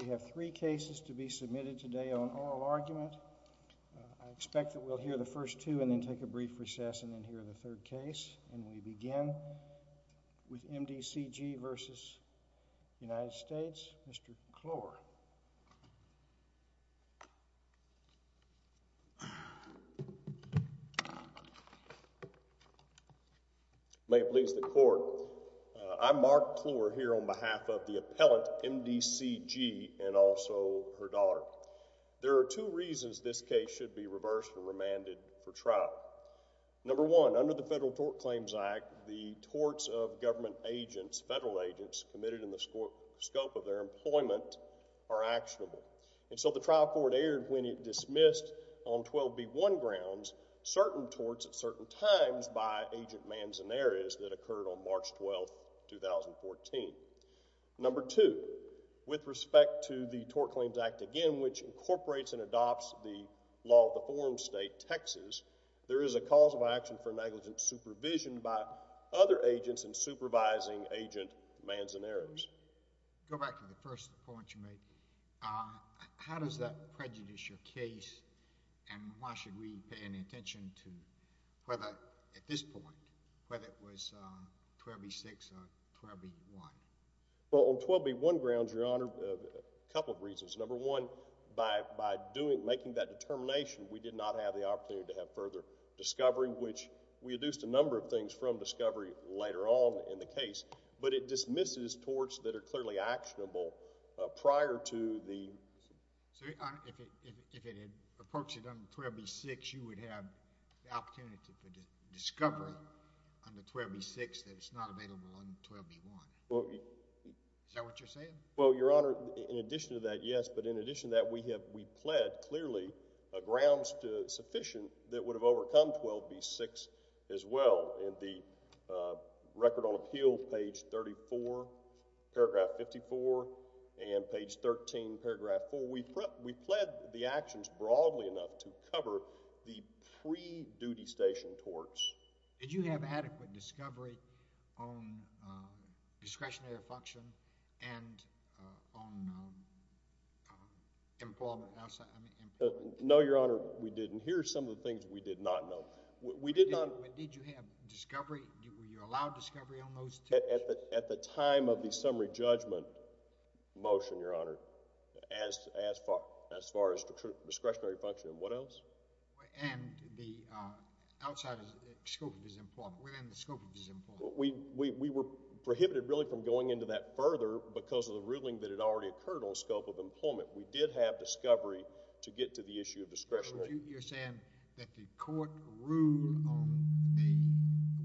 We have three cases to be submitted today on oral argument. I expect that we'll hear the first two and then take a brief recess and then hear the third case. And we begin with M.D.C.G. v. United States. Mr. Clore. May it please the Court, I'm Mark Clore here on behalf of the appellant M.D.C.G. and also her daughter. There are two reasons this case should be reversed and remanded for trial. Number one, under the Federal Tort Claims Act, the torts of government agents, federal agents committed in the scope of their employment are actionable. And so the trial court erred when it dismissed on 12B1 grounds certain torts at certain times by Agent Manzanares that occurred on March 12, 2014. Number two, with respect to the Tort Claims Act again, which incorporates and adopts the law of the forum state, Texas, there is a cause of action for negligent supervision by other agents in supervising Agent Manzanares. Go back to the first point you made. How does that prejudice your case and why should we pay any attention to whether, at this point, whether it was 12B6 or 12B1? Well, on 12B1 grounds, Your Honor, a couple of reasons. Number one, by doing, making that determination, we did not have the opportunity to have further discovery, which we reduced a number of things from discovery later on in the case. But it dismisses torts that are clearly actionable prior to the... So, Your Honor, if it had approached it under 12B6, you would have the opportunity for discovery under 12B6 that is not available under 12B1. Is that what you're saying? Well, Your Honor, in addition to that, yes, but in addition to that, we have, we pled clearly grounds sufficient that would have overcome 12B6 as well. In the Record on Appeal, page 34, paragraph 54, and page 13, paragraph 4, we pled the actions broadly enough to cover the pre-duty station torts. Did you have adequate discovery on discretionary function and on employment outside? No, Your Honor, we didn't. Here are some of the things we did not know. We did not... But did you have discovery? Were you allowed discovery on those two? At the time of the summary judgment motion, Your Honor, as far as discretionary function and what else? And the outside scope of disemployment, within the scope of disemployment. We were prohibited really from going into that further because of the ruling that had already occurred on scope of employment. We did have discovery to get to the issue of discretionary. You're saying that the court ruled on the,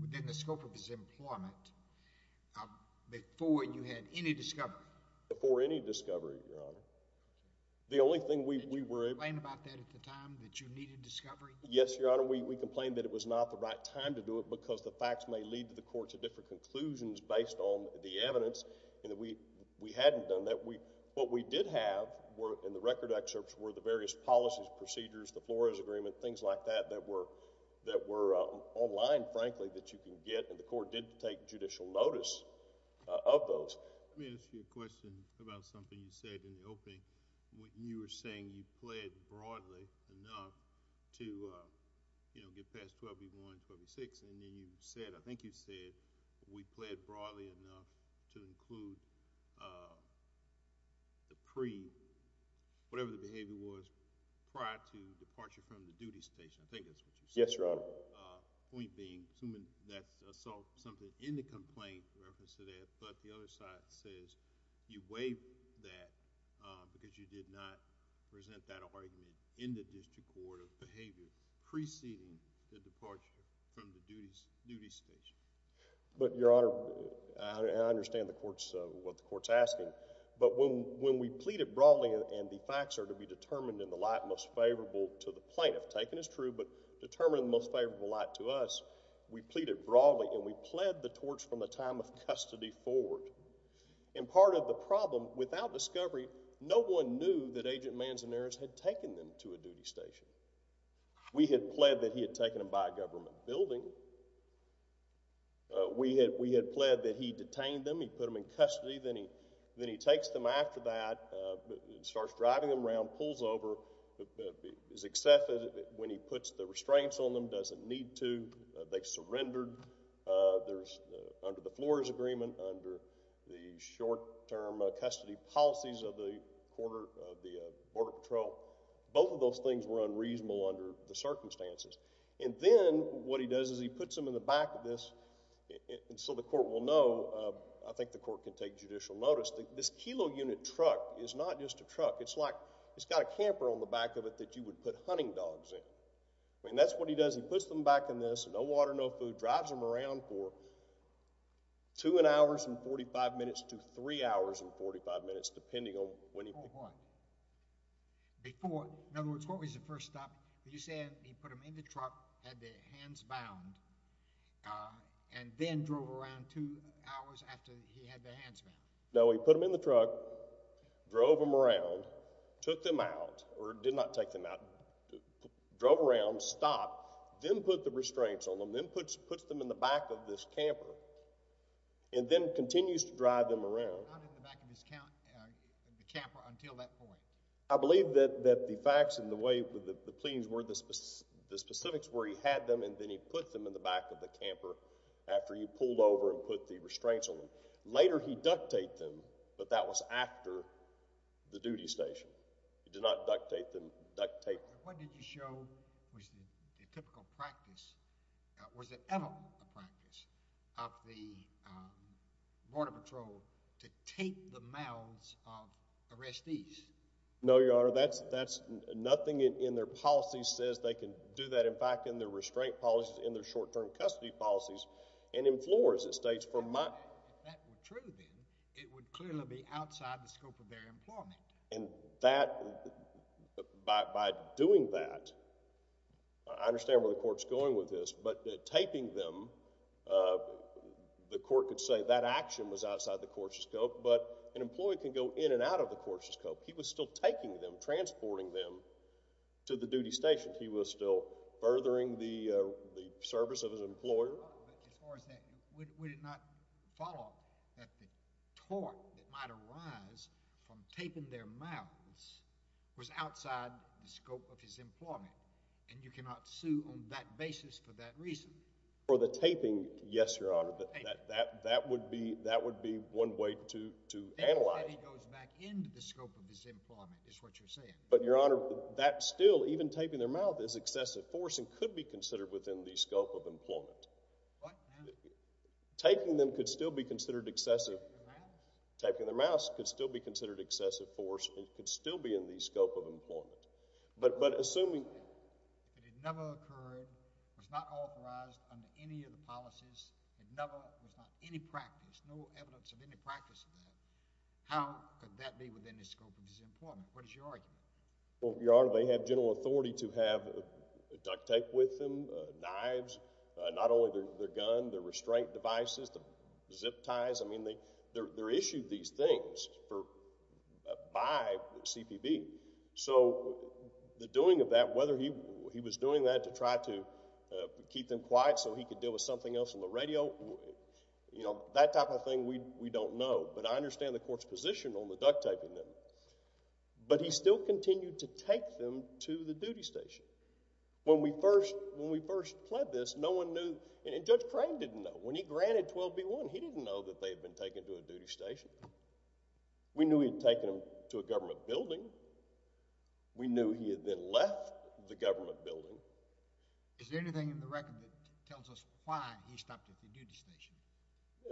within the scope of disemployment, before you had any discovery? Before any discovery, Your Honor. The only thing we were able... Did you complain about that at the time, that you needed discovery? Yes, Your Honor, we complained that it was not the right time to do it because the facts may lead the court to different conclusions based on the evidence and we hadn't done that. What we did have in the record excerpts were the various policies, procedures, the Flores Agreement, things like that, that were online, frankly, that you can get and the court did take judicial notice of those. Let me ask you a question about something you said in the opening. You were saying you pled broadly enough to get past 12B1, 12B6, and then you said, I think you said, we pled broadly enough to include the pre, whatever the behavior was, prior to departure from the duty station. I think that's what you said. Yes, Your Honor. The point being, assuming that's something in the complaint in reference to that, but the other side says you waived that because you did not present that argument in the district court of behavior preceding the departure from the duty station. But, Your Honor, I understand what the court's asking, but when we pleaded broadly and the facts are to be determined in the light most favorable to the plaintiff, taken as true, but determined in the most favorable light to us, we pleaded broadly and we pled the torch from the time of custody forward. And part of the problem, without discovery, no one knew that Agent Manzanares had taken them to a duty station. We had pled that he had taken them by a government building. We had pled that he detained them, he put them in custody, then he takes them after that, starts driving them around, pulls over, is accepted when he puts the restraints on them, doesn't need to, they surrendered, there's agreement under the short-term custody policies of the Border Patrol. Both of those things were unreasonable under the circumstances. And then what he does is he puts them in the back of this, and so the court will know, I think the court can take judicial notice, this kilo unit truck is not just a truck, it's like, it's got a camper on the back of it that you would put hunting dogs in. And that's what he does, he puts them back in this, no water, no food, drives them around for two and hours and 45 minutes to three hours and 45 minutes, depending on when he picks them up. Before what? Before, in other words, what was the first stop? You said he put them in the truck, had their hands bound, and then drove around two hours after he had their hands bound. No, he put them in the truck, drove them around, took them out, or did not take them out, drove around, stopped, then put the restraints on them, then puts them in the back of this camper, and then continues to drive them around. Not in the back of the camper until that point? I believe that the facts and the way the pleadings were, the specifics were he had them and then he put them in the back of the camper after he pulled over and put the restraints on them. Later he duct-taped them, but that was after the duty station. He did not duct-tape them. Your Honor, what did you show was the typical practice, was it ever a practice of the Border Patrol to tape the mouths of arrestees? No, Your Honor, nothing in their policies says they can do that. In fact, in their restraint policies, in their short-term custody policies and in floors, it states, for months. If that were true then, it would clearly be outside the scope of their employment. And that, by doing that, I understand where the court is going with this, but taping them, the court could say that action was outside the court's scope, but an employee can go in and out of the court's scope. He was still taking them, transporting them to the duty station. He was still furthering the service of his employer. But as far as that, would it not follow that the tort that might arise from taping their mouths was outside the scope of his employment, and you cannot sue on that basis for that reason? For the taping, yes, Your Honor. That would be one way to analyze it. That is that he goes back into the scope of his employment, is what you're saying. But, Your Honor, that still, even taping their mouth, is excessive force and could be considered within the scope of employment. What? Taping them could still be considered excessive. Taping their mouths? Taping their mouths could still be considered excessive force and could still be in the scope of employment. But, assuming that it never occurred, was not authorized under any of the policies, and never was not any practice, no evidence of any practice of that, how could that be within the scope of his employment? What is your argument? Well, Your Honor, they have general authority to have duct tape with them, knives, not only their gun, their restraint devices, the zip ties. I mean, they're issued these things for, by CPB. So, the doing of that, whether he was doing that to try to keep them quiet so he could deal with something else on the radio, you know, that type of thing we don't know. But, I understand the court's position on the duct taping them. But, he still continued to take them to the duty station. When we first, when we first pled this, no one knew, and Judge Crane didn't know. When he granted 12B1, he didn't know that they had been taken to a duty station. We knew he had taken them to a government building. We knew he had then left the government building. Is there anything in the record that tells us why he stopped at the duty station?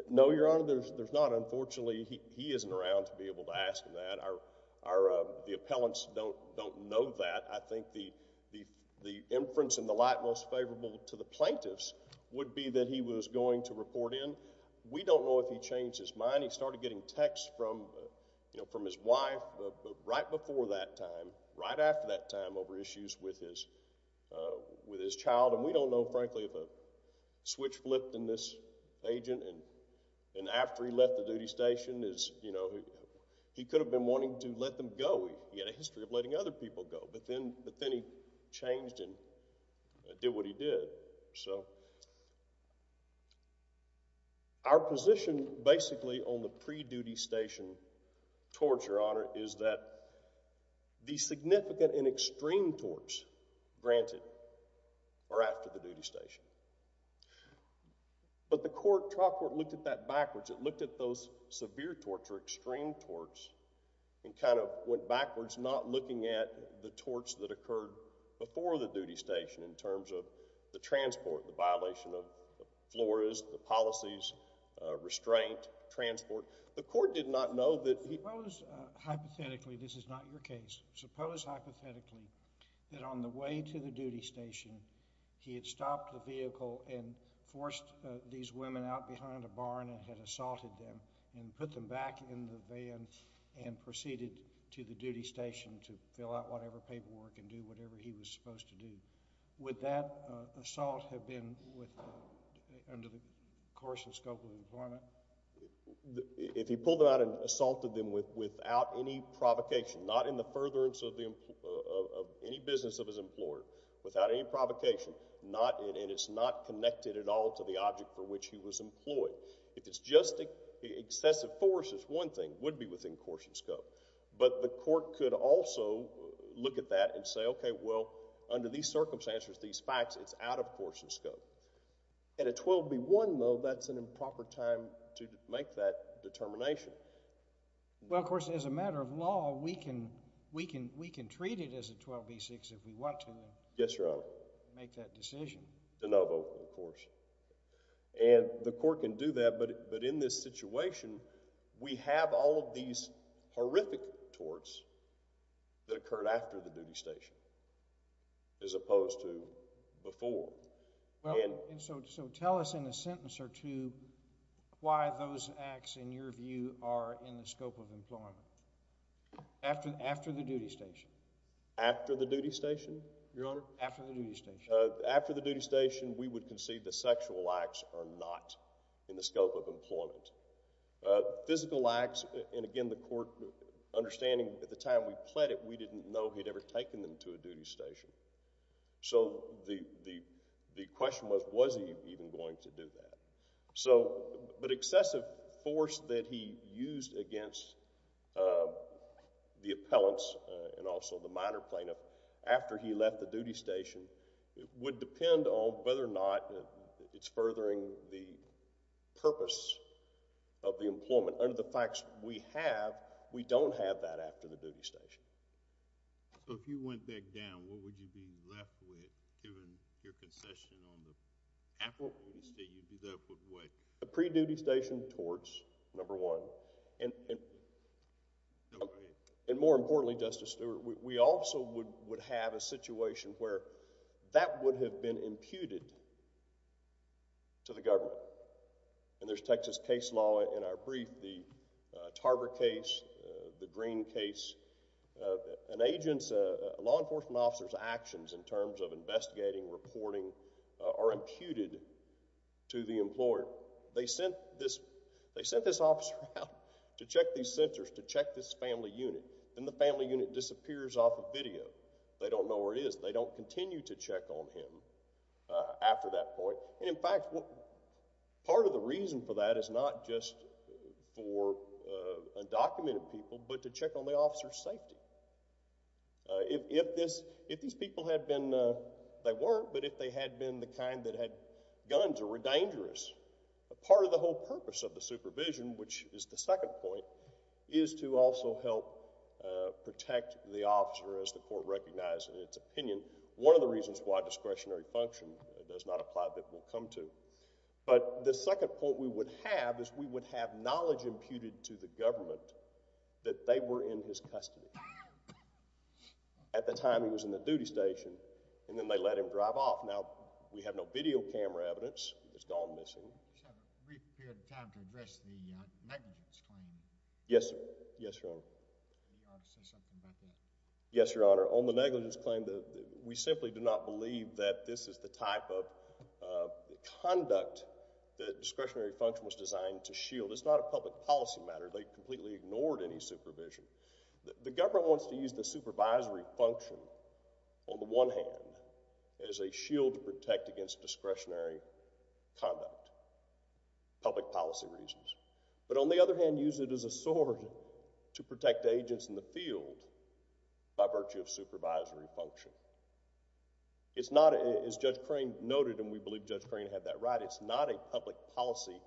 No, Your Honor, there's not. Unfortunately, he isn't around to be able to ask that. The appellants don't know that. I think the inference in the light most favorable to the plaintiffs would be that he was going to report in. We don't know if he changed his mind. He started getting texts from his wife right before that time, right after that time over issues with his child. And, we don't know, frankly, if a switch flipped in this agent. And, after he left the duty station, you know, he could have been wanting to let them go. He had a history of letting other people go. But, then he changed and did what he did. So, our position, basically, on the pre-duty station, towards Your Honor, is that the significant and extreme torts granted are after the duty station. But, the trial court looked at that backwards. It looked at those severe torts or extreme torts and kind of went backwards, not looking at the torts that occurred before the duty station in terms of the transport, the violation of the floras, the policies, restraint, transport. The court did not know Hypothetically, this is not your case. Suppose, hypothetically, that on the way to the duty station, he had stopped the vehicle and forced these women out behind a barn and had assaulted them and put them back in the van and proceeded to the duty station to fill out whatever paperwork and do whatever he was supposed to do. Would that assault have been under the course and scope of the employment? If he pulled them out and assaulted them without any provocation, not in the furtherance of any business of his employer, without any provocation, and it's not connected at all to the object for which he was employed. If it's just excessive force, it's one thing, it would be within course and scope. But, the court could also look at that and say, okay, well, under these circumstances, these facts, it's out of course and scope. At a 12B1, though, that's an improper time to make that determination. Well, of course, as a matter of law, we can treat it as a 12B6 if we want to. Yes, Your Honor. Make that decision. De novo, of course. And, the court can do that, but in this situation, we have all of these horrific torts that occurred after the duty station as opposed to before. So, tell us in a sentence or two why those acts, in your view, are in the scope of employment. After the duty station. After the duty station? Your Honor? After the duty station. After the duty station, we would concede the sexual acts are not in the scope of employment. Physical acts, and again, the court understanding at the time we pled it, we didn't know he'd ever taken them to a duty station. So, the question was, was he even going to do that? So, but excessive force that he used against the appellants and also the minor plaintiff after he left the duty station would depend on whether or not it's furthering the purpose of the employment. So, under the facts we have, we don't have that after the duty station. So, if you went back down, what would you be left with given your concession on the after the duty station, you'd be left with what? A pre-duty station, torts, number one. And more importantly, Justice Stewart, we also would have a situation where that would have been imputed to the government. And there's Texas case law in our brief, the Tarver case, the Green case. An agent's, a law enforcement officer's actions in terms of investigating, reporting, are imputed to the employer. They sent this officer out to check these centers, to check this family unit. Then the family unit disappears off of video. They don't know where it is. They don't continue to check on him after that point. And in fact, part of the reason for that is not just for undocumented people, but to check on the officer's safety. If these people had been, they weren't, but if they had been the kind that had guns or were dangerous, part of the whole purpose of the supervision, which is the second point, is to also help protect the officer as the court recognized in its opinion. One of the reasons why discretionary function does not apply that we'll come to. But the second point we would have is we would have knowledge imputed to the government that they were in his custody. At the time he was in the duty station, and then they let him drive off. Now, we have no video camera evidence. It's gone missing. Just have a brief period of time to address the negligence claim. Yes, Your Honor. You ought to say something about that. Yes, Your Honor. On the negligence claim, we simply do not believe that this is the type of conduct that discretionary function was designed to shield. It's not a public policy matter. They completely ignored any supervision. The government wants to use the supervisory function on the one hand as a shield to protect against discretionary conduct, public policy reasons. But on the other hand, use it as a sword to protect the agents in the field by virtue of supervisory function. It's not, as Judge Crane noted, and we believe Judge Crane had that right, it's not a public policy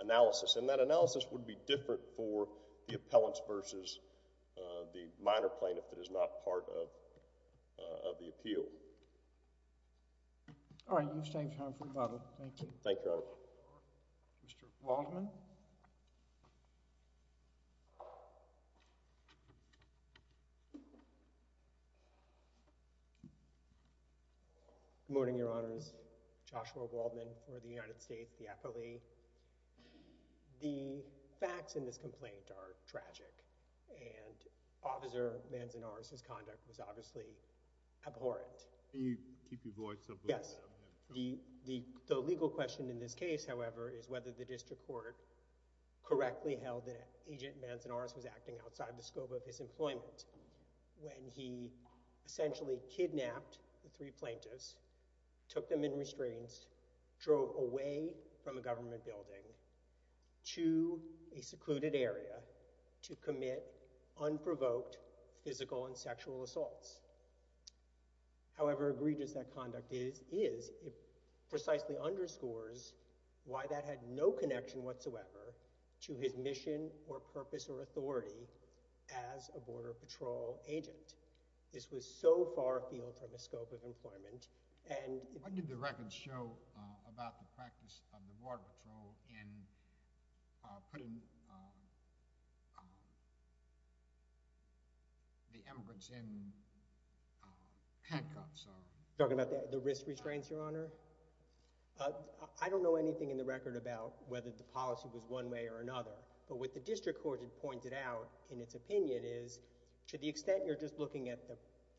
analysis. And that analysis would be different for the appellants versus the minor plaintiff that is not part of the appeal. All right. You've saved time for rebuttal. Thank you. Thank you, Your Honor. Mr. Waldman. Good morning, Your Honors. Joshua Waldman for the United States, the appellee. The facts in this complaint are tragic, and Officer Manzanar's conduct was obviously abhorrent. Can you keep your voice up a little bit? Yes. The legal question in this case, however, is whether the district court correctly held that Agent Manzanar was acting outside the scope of his employment when he essentially kidnapped the three plaintiffs, took them in restraints, drove away from a government building to a secluded area to commit unprovoked physical and sexual assaults. However egregious that conduct is, it precisely underscores why that had no connection whatsoever to his mission or purpose or authority as a Border Patrol agent. This was so far afield from the scope of employment, and— What did the records show about the practice of the Border Patrol in putting the immigrants in handcuffs? You're talking about the risk restraints, Your Honor? I don't know anything in the record about whether the policy was one way or another. But what the district court had pointed out in its opinion is, to the extent you're just looking at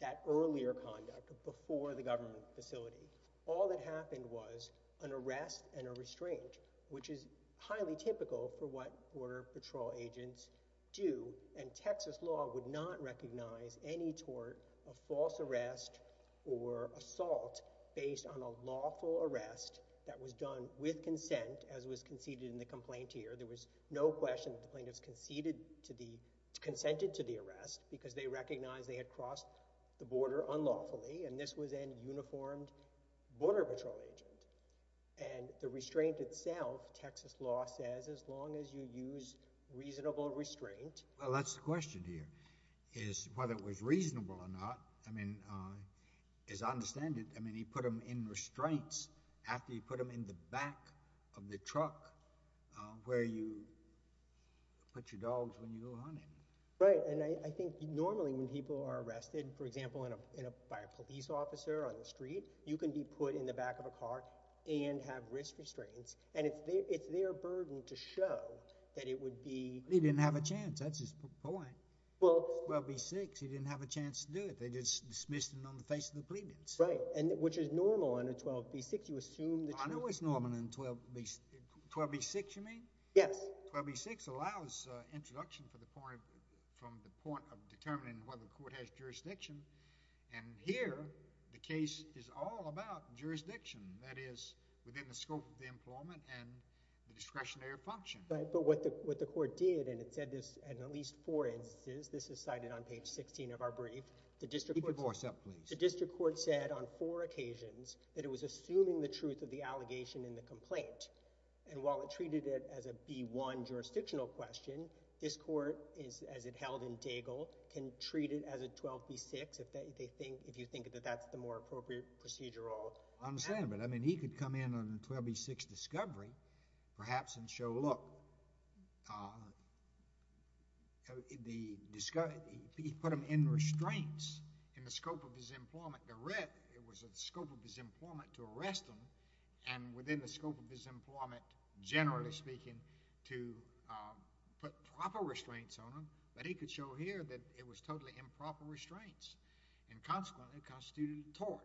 that earlier conduct before the government facility, all that happened was an arrest and a restraint, which is highly typical for what Border Patrol agents do. And Texas law would not recognize any tort of false arrest or assault based on a lawful arrest that was done with consent, as was conceded in the complaint here. So there was no question that the plaintiffs conceded to the—consented to the arrest because they recognized they had crossed the border unlawfully. And this was a uniformed Border Patrol agent. And the restraint itself, Texas law says, as long as you use reasonable restraint— Well, that's the question here, is whether it was reasonable or not. As I understand it, he put them in restraints after he put them in the back of the truck where you put your dogs when you go hunting. Right. And I think normally when people are arrested, for example, by a police officer on the street, you can be put in the back of a car and have risk restraints. And it's their burden to show that it would be— He didn't have a chance. That's his point. Well— 12b-6, he didn't have a chance to do it. They just dismissed him on the face of the plaintiffs. Right, which is normal under 12b-6. You assume that you— I know it's normal in 12b—12b-6, you mean? Yes. 12b-6 allows introduction for the point—from the point of determining whether the court has jurisdiction. And here, the case is all about jurisdiction, that is, within the scope of the employment and the discretionary function. But what the court did, and it said this in at least four instances—this is cited on page 16 of our brief— Keep your voice up, please. The district court said on four occasions that it was assuming the truth of the allegation in the complaint. And while it treated it as a B-1 jurisdictional question, this court, as it held in Daigle, can treat it as a 12b-6 if you think that that's the more appropriate procedural— I understand, but, I mean, he could come in on 12b-6 discovery, perhaps, and show, look, he put him in restraints in the scope of his employment. The red, it was in the scope of his employment to arrest him, and within the scope of his employment, generally speaking, to put proper restraints on him. But he could show here that it was totally improper restraints, and consequently constituted a tort.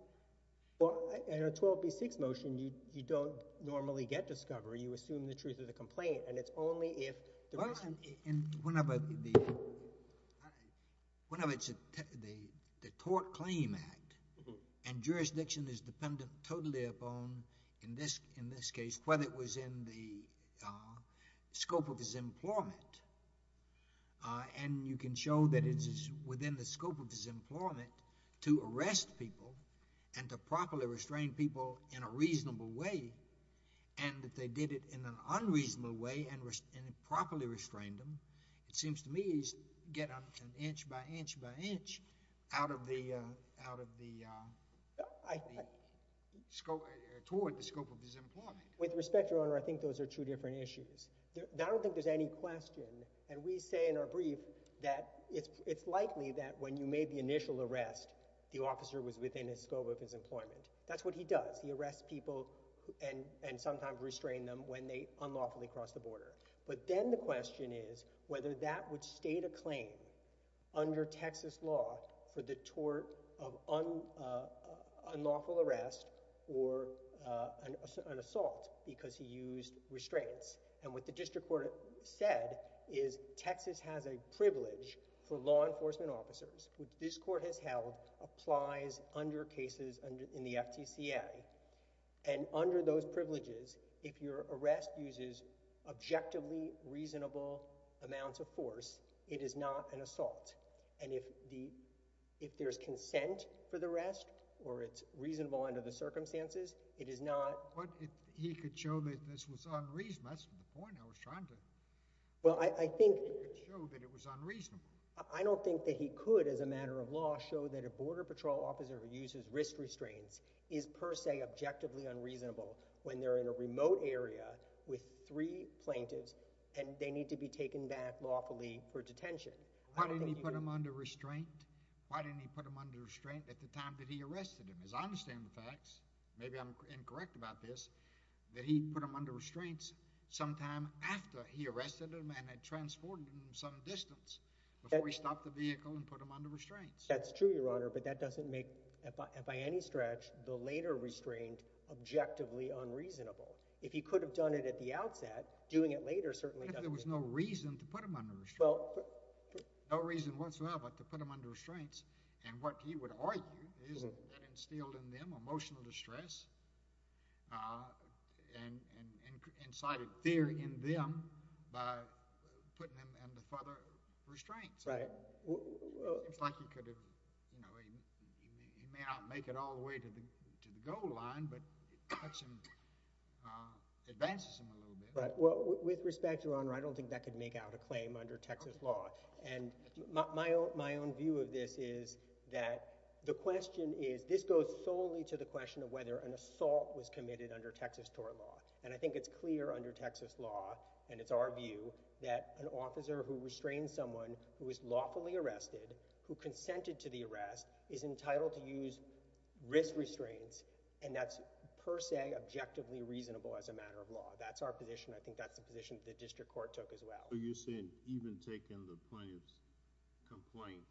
Well, in a 12b-6 motion, you don't normally get discovery. You assume the truth of the complaint, and it's only if the person— Well, and whenever the—whenever it's a—the tort claim act, and jurisdiction is dependent totally upon, in this case, whether it was in the scope of his employment, and you can show that it's within the scope of his employment to arrest people and to properly restrain people in a reasonable way, and that they did it in an unreasonable way and properly restrained them, it seems to me he's getting an inch by inch by inch out of the—toward the scope of his employment. With respect, Your Honor, I think those are two different issues. I don't think there's any question. And we say in our brief that it's likely that when you made the initial arrest, the officer was within the scope of his employment. That's what he does. He arrests people and sometimes restrains them when they unlawfully cross the border. But then the question is whether that would state a claim under Texas law for the tort of unlawful arrest or an assault because he used restraints. And what the district court said is Texas has a privilege for law enforcement officers, which this court has held applies under cases in the FTCA. And under those privileges, if your arrest uses objectively reasonable amounts of force, it is not an assault. And if there's consent for the arrest or it's reasonable under the circumstances, it is not— But he could show that this was unreasonable. That's the point I was trying to— Well, I think— He could show that it was unreasonable. I don't think that he could, as a matter of law, show that a Border Patrol officer who uses risk restraints is per se objectively unreasonable when they're in a remote area with three plaintiffs and they need to be taken back lawfully for detention. Why didn't he put him under restraint? Why didn't he put him under restraint at the time that he arrested him? As I understand the facts, maybe I'm incorrect about this, that he put him under restraints sometime after he arrested him and had transported him some distance before he stopped the vehicle and put him under restraints. That's true, Your Honor, but that doesn't make, by any stretch, the later restraint objectively unreasonable. If he could have done it at the outset, doing it later certainly doesn't— But there was no reason to put him under restraint. Well— No reason whatsoever to put him under restraints, and what he would argue is that it instilled in them emotional distress and incited fear in them by putting them under further restraints. Right. It seems like he could have— He may not make it all the way to the goal line, but it cuts him—advances him a little bit. With respect, Your Honor, I don't think that could make out a claim under Texas law, and my own view of this is that the question is— This goes solely to the question of whether an assault was committed under Texas tort law, and I think it's clear under Texas law, and it's our view, that an officer who restrains someone who is lawfully arrested, who consented to the arrest, is entitled to use risk restraints, and that's per se objectively reasonable as a matter of law. That's our position. I think that's the position that the district court took as well. So you're saying even taking the plaintiff's complaint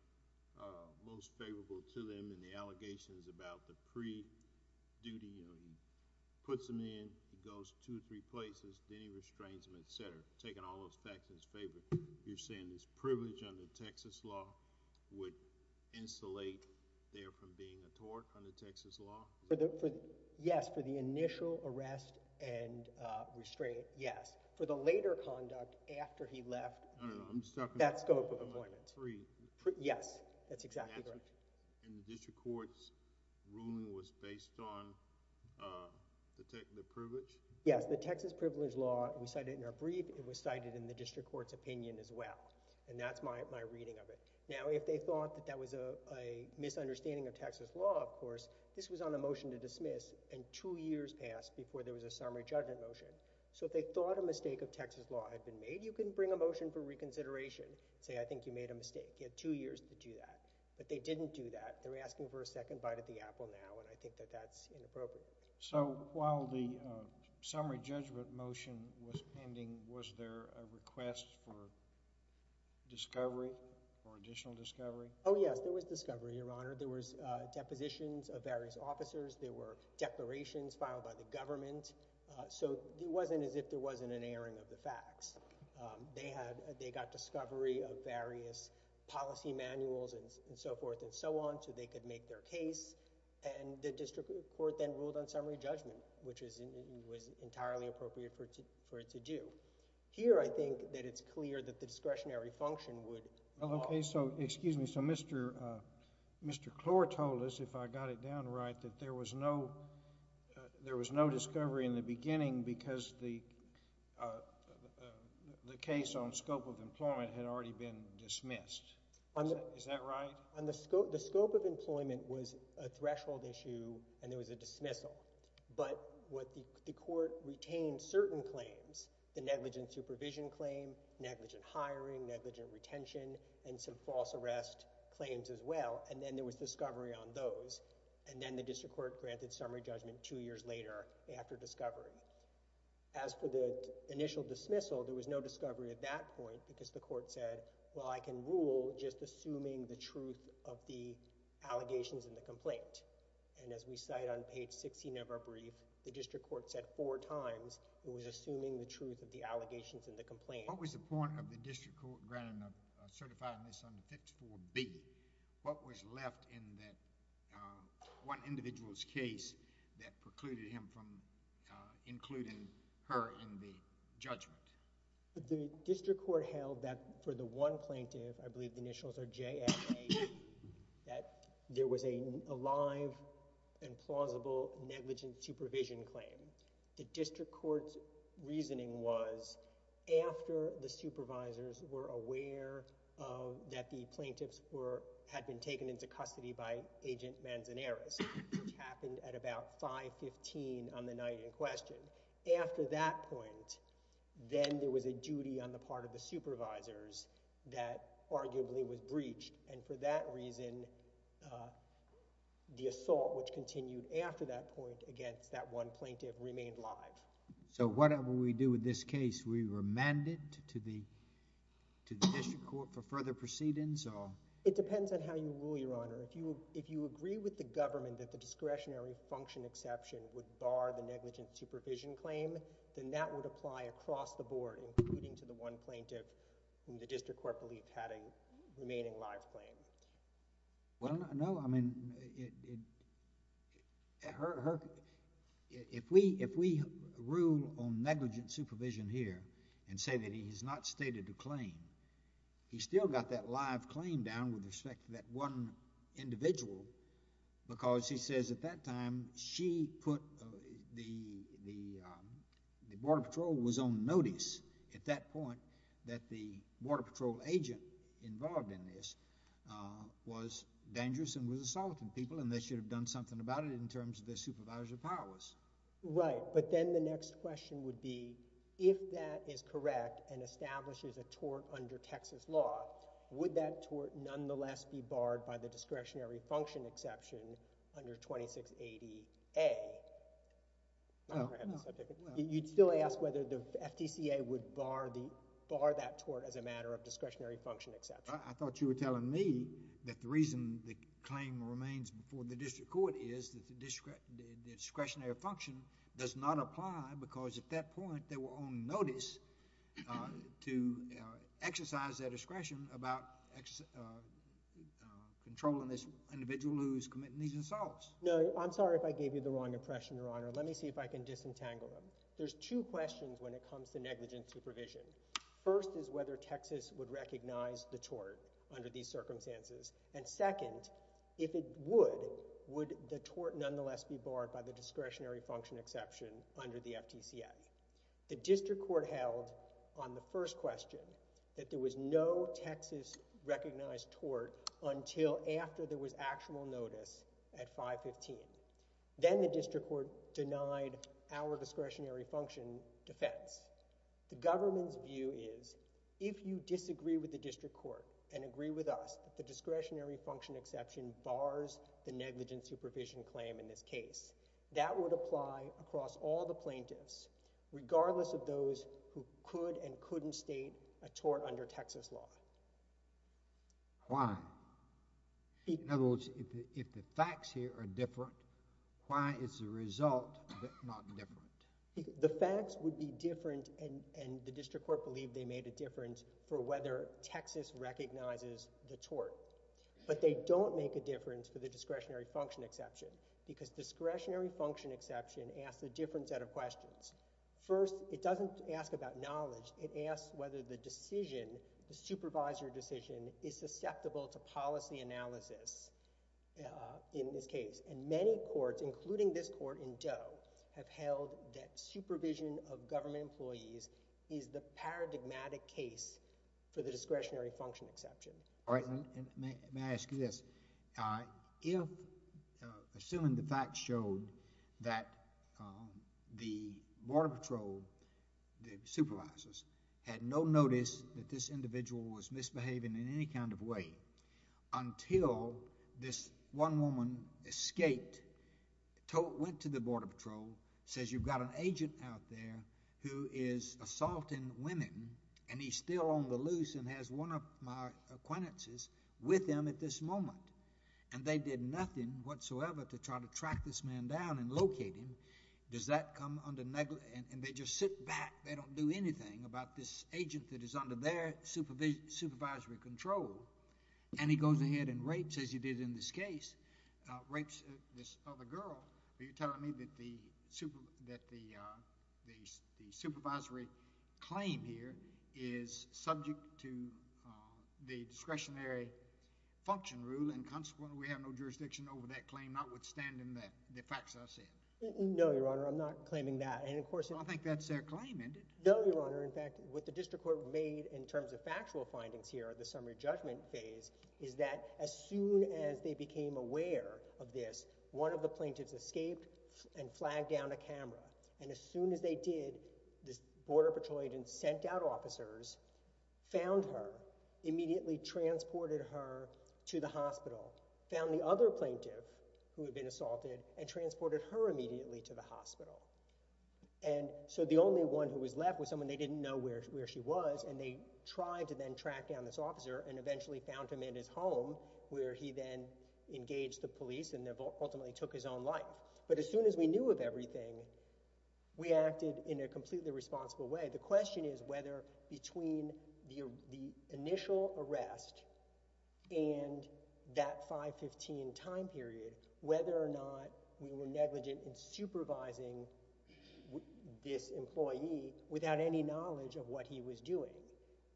most favorable to them and the allegations about the pre-duty, you know, he puts them in, he goes two or three places, then he restrains them, et cetera, taking all those facts in his favor, you're saying this privilege under Texas law would insulate there from being a tort under Texas law? Yes, for the initial arrest and restraint, yes. For the later conduct after he left, that scope of appointment. Yes, that's exactly correct. And the district court's ruling was based on the privilege? Yes, the Texas privilege law, we cited in our brief, it was cited in the district court's opinion as well, and that's my reading of it. Now, if they thought that that was a misunderstanding of Texas law, of course, this was on a motion to dismiss, and two years passed before there was a summary judgment motion. So if they thought a mistake of Texas law had been made, you can bring a motion for reconsideration and say, I think you made a mistake. You have two years to do that. But they didn't do that. They're asking for a second bite at the apple now, and I think that that's inappropriate. So while the summary judgment motion was pending, was there a request for discovery, for additional discovery? Oh, yes, there was discovery, Your Honor. There was depositions of various officers. There were declarations filed by the government. So it wasn't as if there wasn't an airing of the facts. They got discovery of various policy manuals and so forth and so on so they could make their case, and the district court then ruled on summary judgment, which was entirely appropriate for it to do. Here, I think that it's clear that the discretionary function would fall. Okay, so excuse me. So Mr. Clore told us, if I got it down right, that there was no discovery in the beginning because the case on scope of employment had already been dismissed. Is that right? The scope of employment was a threshold issue, and there was a dismissal. But the court retained certain claims, the negligent supervision claim, negligent hiring, negligent retention, and some false arrest claims as well, and then there was discovery on those. And then the district court granted summary judgment two years later after discovery. As for the initial dismissal, there was no discovery at that point because the court said, well, I can rule just assuming the truth of the allegations in the complaint. And as we cite on page 16 of our brief, the district court said four times it was assuming the truth of the allegations in the complaint. What was the point of the district court certifying this under 54B? What was left in that one individual's case that precluded him from including her in the judgment? The district court held that for the one plaintiff, I believe the initials are J and A, that there was a live and plausible negligent supervision claim. The district court's reasoning was, after the supervisors were aware that the plaintiffs had been taken into custody by Agent Manzanares, which happened at about 5.15 on the night in question, after that point, then there was a duty on the part of the supervisors that arguably was breached. And for that reason, the assault which continued after that point against that one plaintiff remained live. So whatever we do with this case, we remand it to the district court for further proceedings? It depends on how you rule, Your Honor. If you agree with the government that the discretionary function exception would bar the negligent supervision claim, then that would apply across the board, including to the one plaintiff whom the district court believed had a remaining live claim. Well, no, I mean, if we rule on negligent supervision here and say that he has not stated a claim, he's still got that live claim down with respect to that one individual because he says at that time she put the... the Border Patrol was on notice at that point that the Border Patrol agent involved in this was dangerous and was assaulting people and they should have done something about it in terms of their supervisory powers. Right, but then the next question would be if that is correct and establishes a tort under Texas law, would that tort nonetheless be barred by the discretionary function exception under 2680A? No. You'd still ask whether the FDCA would bar that tort as a matter of discretionary function exception. I thought you were telling me that the reason the claim remains before the district court is that the discretionary function does not apply because at that point they were on notice to exercise their discretion about controlling this individual who is committing these assaults. No, I'm sorry if I gave you the wrong impression, Your Honor. Let me see if I can disentangle them. There's two questions when it comes to negligent supervision. First is whether Texas would recognize the tort under these circumstances, and second, if it would, would the tort nonetheless be barred by the discretionary function exception under the FDCA? The district court held on the first question that there was no Texas-recognized tort until after there was actual notice at 515. Then the district court denied our discretionary function defense. The government's view is if you disagree with the district court and agree with us that the discretionary function exception bars the negligent supervision claim in this case, that would apply across all the plaintiffs, regardless of those who could and couldn't state a tort under Texas law. Why? In other words, if the facts here are different, why is the result not different? The facts would be different, and the district court believed they made a difference for whether Texas recognizes the tort. But they don't make a difference for the discretionary function exception because discretionary function exception asks a different set of questions. First, it doesn't ask about knowledge. It asks whether the decision, the supervisor decision, is susceptible to policy analysis in this case. And many courts, including this court in Doe, have held that supervision of government employees is the paradigmatic case for the discretionary function exception. All right. May I ask you this? If, assuming the facts showed that the border patrol, the supervisors, had no notice that this individual was misbehaving in any kind of way, until this one woman escaped, went to the border patrol, says, you've got an agent out there who is assaulting women, and he's still on the loose and has one of my acquaintances with him at this moment, and they did nothing whatsoever to try to track this man down and locate him, does that come under negligence? And they just sit back, they don't do anything about this agent that is under their supervisory control. And he goes ahead and rapes, as he did in this case, rapes this other girl. Are you telling me that the supervisory claim here is subject to the discretionary function rule and consequently we have no jurisdiction over that claim, notwithstanding the facts I said? No, Your Honor, I'm not claiming that. I think that's their claim, isn't it? No, Your Honor, in fact, what the district court made in terms of factual findings here at the summary judgment phase is that as soon as they became aware of this, one of the plaintiffs escaped and flagged down a camera. And as soon as they did, this border patrol agent sent out officers, found her, immediately transported her to the hospital, found the other plaintiff who had been assaulted and transported her immediately to the hospital. And so the only one who was left was someone they didn't know where she was, and they tried to then track down this officer and eventually found him in his home where he then engaged the police and ultimately took his own life. But as soon as we knew of everything, we acted in a completely responsible way. The question is whether between the initial arrest and that 5-15 time period, whether or not we were negligent in supervising this employee without any knowledge of what he was doing.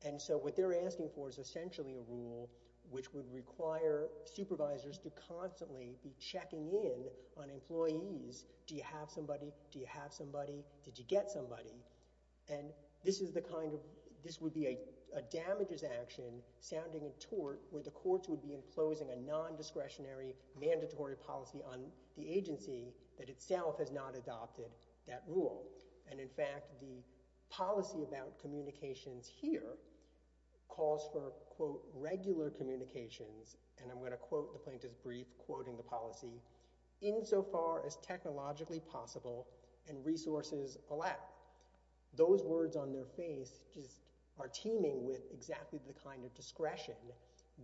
And so what they're asking for is essentially a rule which would require supervisors to constantly be checking in on employees. Do you have somebody? Do you have somebody? Did you get somebody? And this is the kind of... This would be a damages action, sounding in tort, where the courts would be imposing a non-discretionary mandatory policy on the agency that itself has not adopted that rule. And in fact, the policy about communications here calls for, quote, regular communications, and I'm going to quote the plaintiff's brief quoting the policy, insofar as technologically possible and resources allow. Those words on their face just are teeming with exactly the kind of discretion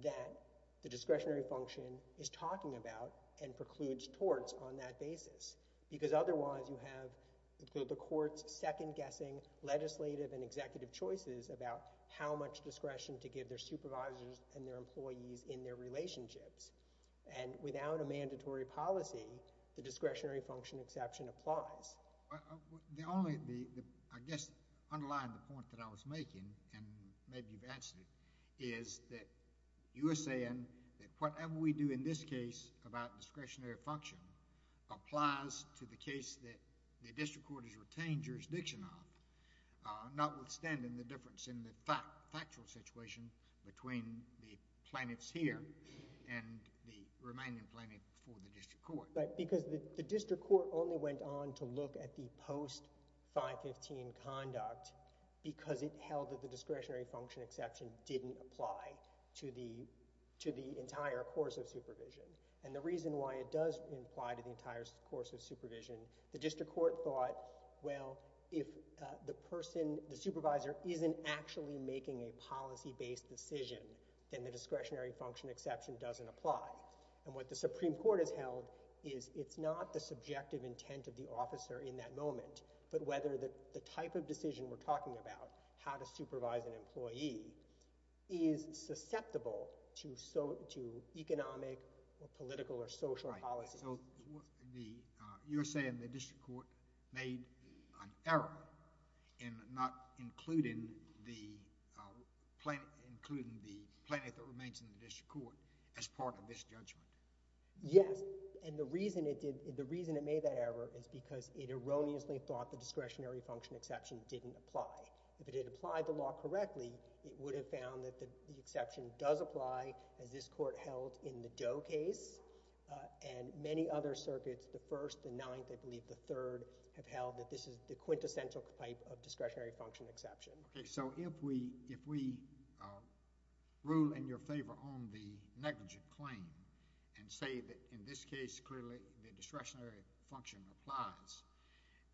that the discretionary function is talking about and precludes torts on that basis, because otherwise you have the court's second-guessing legislative and executive choices about how much discretion to give their supervisors and their employees in their relationships. And without a mandatory policy, the discretionary function exception applies. The only... I guess, underlying the point that I was making, and maybe you've answered it, is that you are saying that whatever we do in this case about discretionary function applies to the case that the district court has retained jurisdiction on, notwithstanding the difference in the factual situation between the plaintiffs here and the remaining plaintiff before the district court. Right, because the district court only went on to look at the post-515 conduct because it held that the discretionary function exception didn't apply to the entire course of supervision. And the reason why it does apply to the entire course of supervision, the district court thought, well, if the person, the supervisor, isn't actually making a policy-based decision, then the discretionary function exception doesn't apply. And what the Supreme Court has held is it's not the subjective intent of the officer in that moment, but whether the type of decision we're talking about, how to supervise an employee, is susceptible to economic or political or social policies. Right, so you're saying the district court made an error in not including the plaintiff that remains in the district court as part of this judgment. Yes, and the reason it made that error is because it erroneously thought the discretionary function exception didn't apply. If it had applied the law correctly, it would have found that the exception does apply, as this court held in the Doe case, and many other circuits, the First, the Ninth, I believe the Third, have held that this is the quintessential type of discretionary function exception. Okay, so if we rule in your favor on the negligent claim and say that in this case, clearly, the discretionary function applies,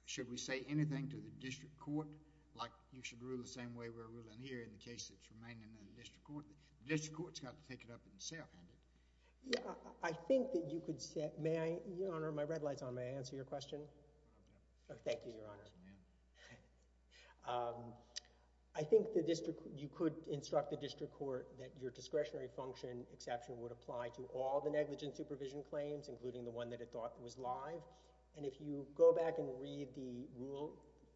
should we say anything to the district court, like you should rule the same way we're ruling here in the case that's remaining in the district court? The district court's got to take it up themselves. Yeah, I think that you could say, may I, Your Honor, my red light's on, may I answer your question? Thank you, Your Honor. I think you could instruct the district court that your discretionary function exception would apply to all the negligent supervision claims, including the one that it thought was live, and if you go back and read the Rule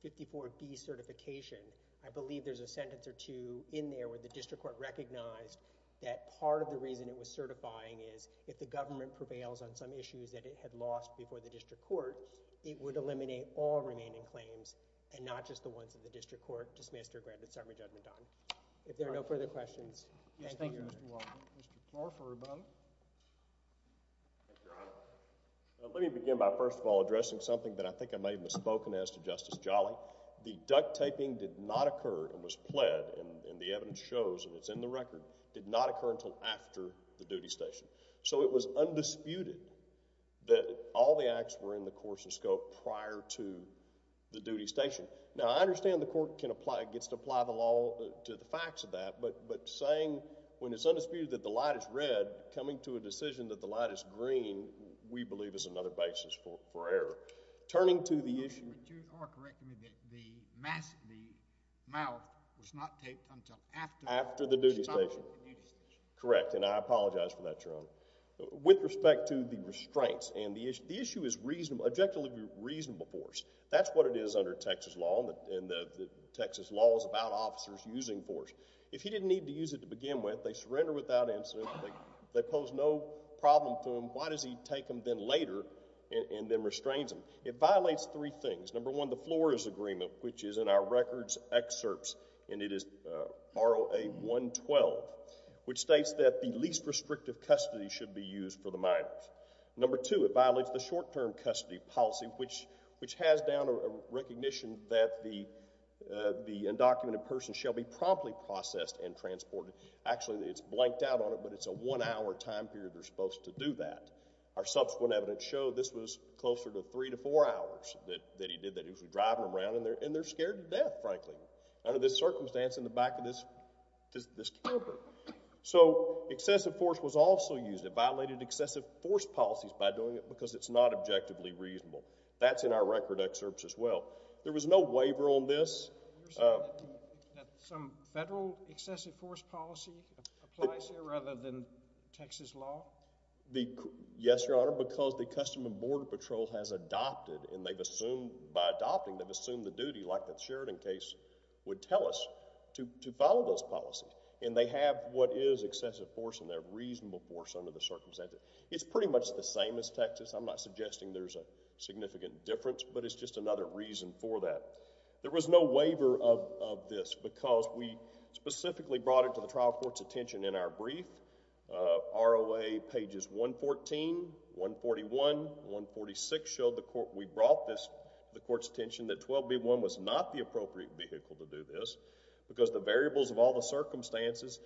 54B certification, I believe there's a sentence or two in there where the district court recognized that part of the reason it was certifying is if the government prevails on some issues that it had lost before the district court, it would eliminate all remaining claims and not just the ones that the district court dismissed or granted summary judgment on. If there are no further questions, thank you, Your Honor. Yes, thank you, Mr. Walden. Mr. Clarke for rebuttal. Thank you, Your Honor. Let me begin by first of all addressing something that I think I may have misspoken as to Justice Jolly. The duct taping did not occur and was pled, and the evidence shows, and it's in the record, did not occur until after the duty station. So it was undisputed that all the acts were in the course and scope prior to the duty station. Now, I understand the court can apply, gets to apply the law to the facts of that, but saying when it's undisputed that the light is red, coming to a decision that the light is green, we believe is another basis for error. Turning to the issue... But you are correcting me that the mask, the mouth was not taped until after... After the duty station. Correct, and I apologize for that, Your Honor. With respect to the restraints and the issue, the issue is objectively reasonable for us. That's what it is under Texas law, and the Texas law is about officers using force. If he didn't need to use it to begin with, they surrender without incident, they pose no problem to him, why does he take them then later and then restrains them? It violates three things. Number one, the Flores Agreement, which is in our records excerpts, and it is R.O.A. 112, which states that the least restrictive custody should be used for the minors. Number two, it violates the short-term custody policy, which has down a recognition that the undocumented person shall be promptly processed and transported. Actually, it's blanked out on it, but it's a one-hour time period they're supposed to do that. Our subsequent evidence showed this was closer to three to four hours that he did that, usually driving around, and they're scared to death, frankly, under this circumstance in the back of this camper. So excessive force was also used. It violated excessive force policies by doing it because it's not objectively reasonable. That's in our record excerpts as well. There was no waiver on this. You're saying that some federal excessive force policy applies here rather than Texas law? Yes, Your Honor, because the Customs and Border Patrol has adopted, and they've assumed by adopting, they've assumed the duty like the Sheridan case would tell us to follow those policies, and they have what is excessive force and they have reasonable force under the circumstances. It's pretty much the same as Texas. I'm not suggesting there's a significant difference, but it's just another reason for that. There was no waiver of this because we specifically brought it to the trial court's attention in our brief, ROA pages 114, 141, 146, showed the court we brought this to the court's attention that 12b-1 was not the appropriate vehicle to do this because the variables of all the circumstances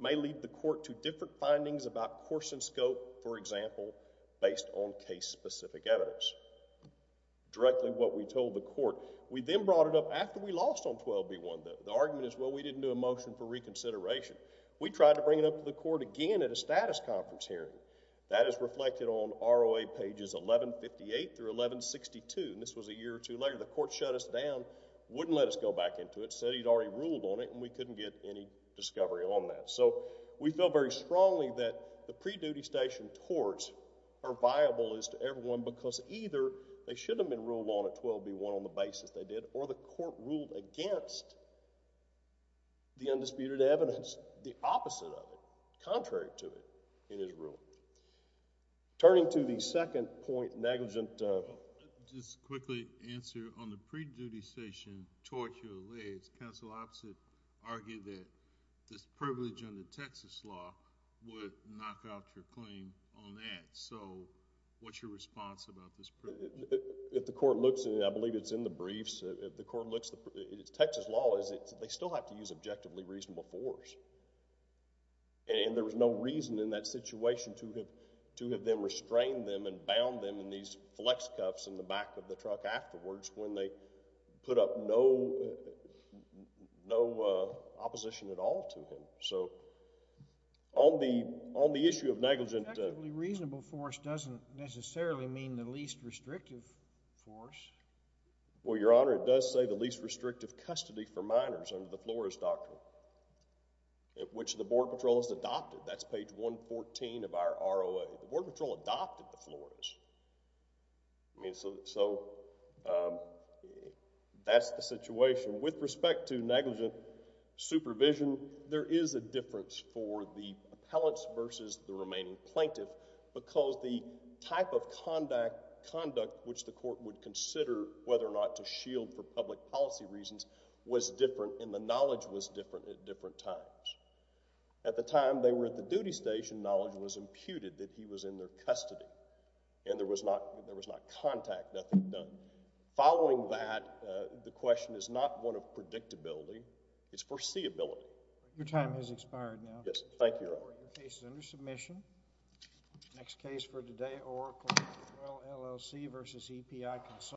may lead the court to different findings about course and scope, for example, based on case-specific evidence. Directly what we told the court. We then brought it up after we lost on 12b-1. The argument is, well, we didn't do a motion for reconsideration. We tried to bring it up to the court again at a status conference hearing. That is reflected on ROA pages 1158 through 1162, and this was a year or two later. The court shut us down, wouldn't let us go back into it, said he'd already ruled on it, and we couldn't get any discovery on that. So we feel very strongly that the pre-duty station torts are viable as to everyone because either they should have been ruled on at 12b-1 on the basis they did, or the court ruled against the undisputed evidence, the opposite of it, contrary to it, in his ruling. Turning to the second point, negligent... Let me just quickly answer. On the pre-duty station tort you allege, counsel opposite argued that this privilege under Texas law would knock out your claim on that. So what's your response about this privilege? If the court looks, and I believe it's in the briefs, if the court looks at Texas law, they still have to use objectively reasonable force, and there was no reason in that situation to have them restrain them and bound them in these flex cuffs in the back of the truck afterwards when they put up no opposition at all to him. So on the issue of negligent... Objectively reasonable force doesn't necessarily mean the least restrictive force. Well, Your Honor, it does say the least restrictive custody for minors under the Flores Doctrine, which the Border Patrol has adopted. That's page 114 of our ROA. The Border Patrol adopted the Flores. So that's the situation. With respect to negligent supervision, there is a difference for the appellants versus the remaining plaintiff because the type of conduct which the court would consider whether or not to shield for public policy reasons was different, and the knowledge was different at different times. At the time they were at the duty station, knowledge was imputed that he was in their custody, and there was not contact, nothing done. Following that, the question is not one of predictability. It's foreseeability. Your time has expired now. Yes. Thank you, Your Honor. Court, your case is under submission. Next case for today, Oracle-LLC v. EPI Consulting.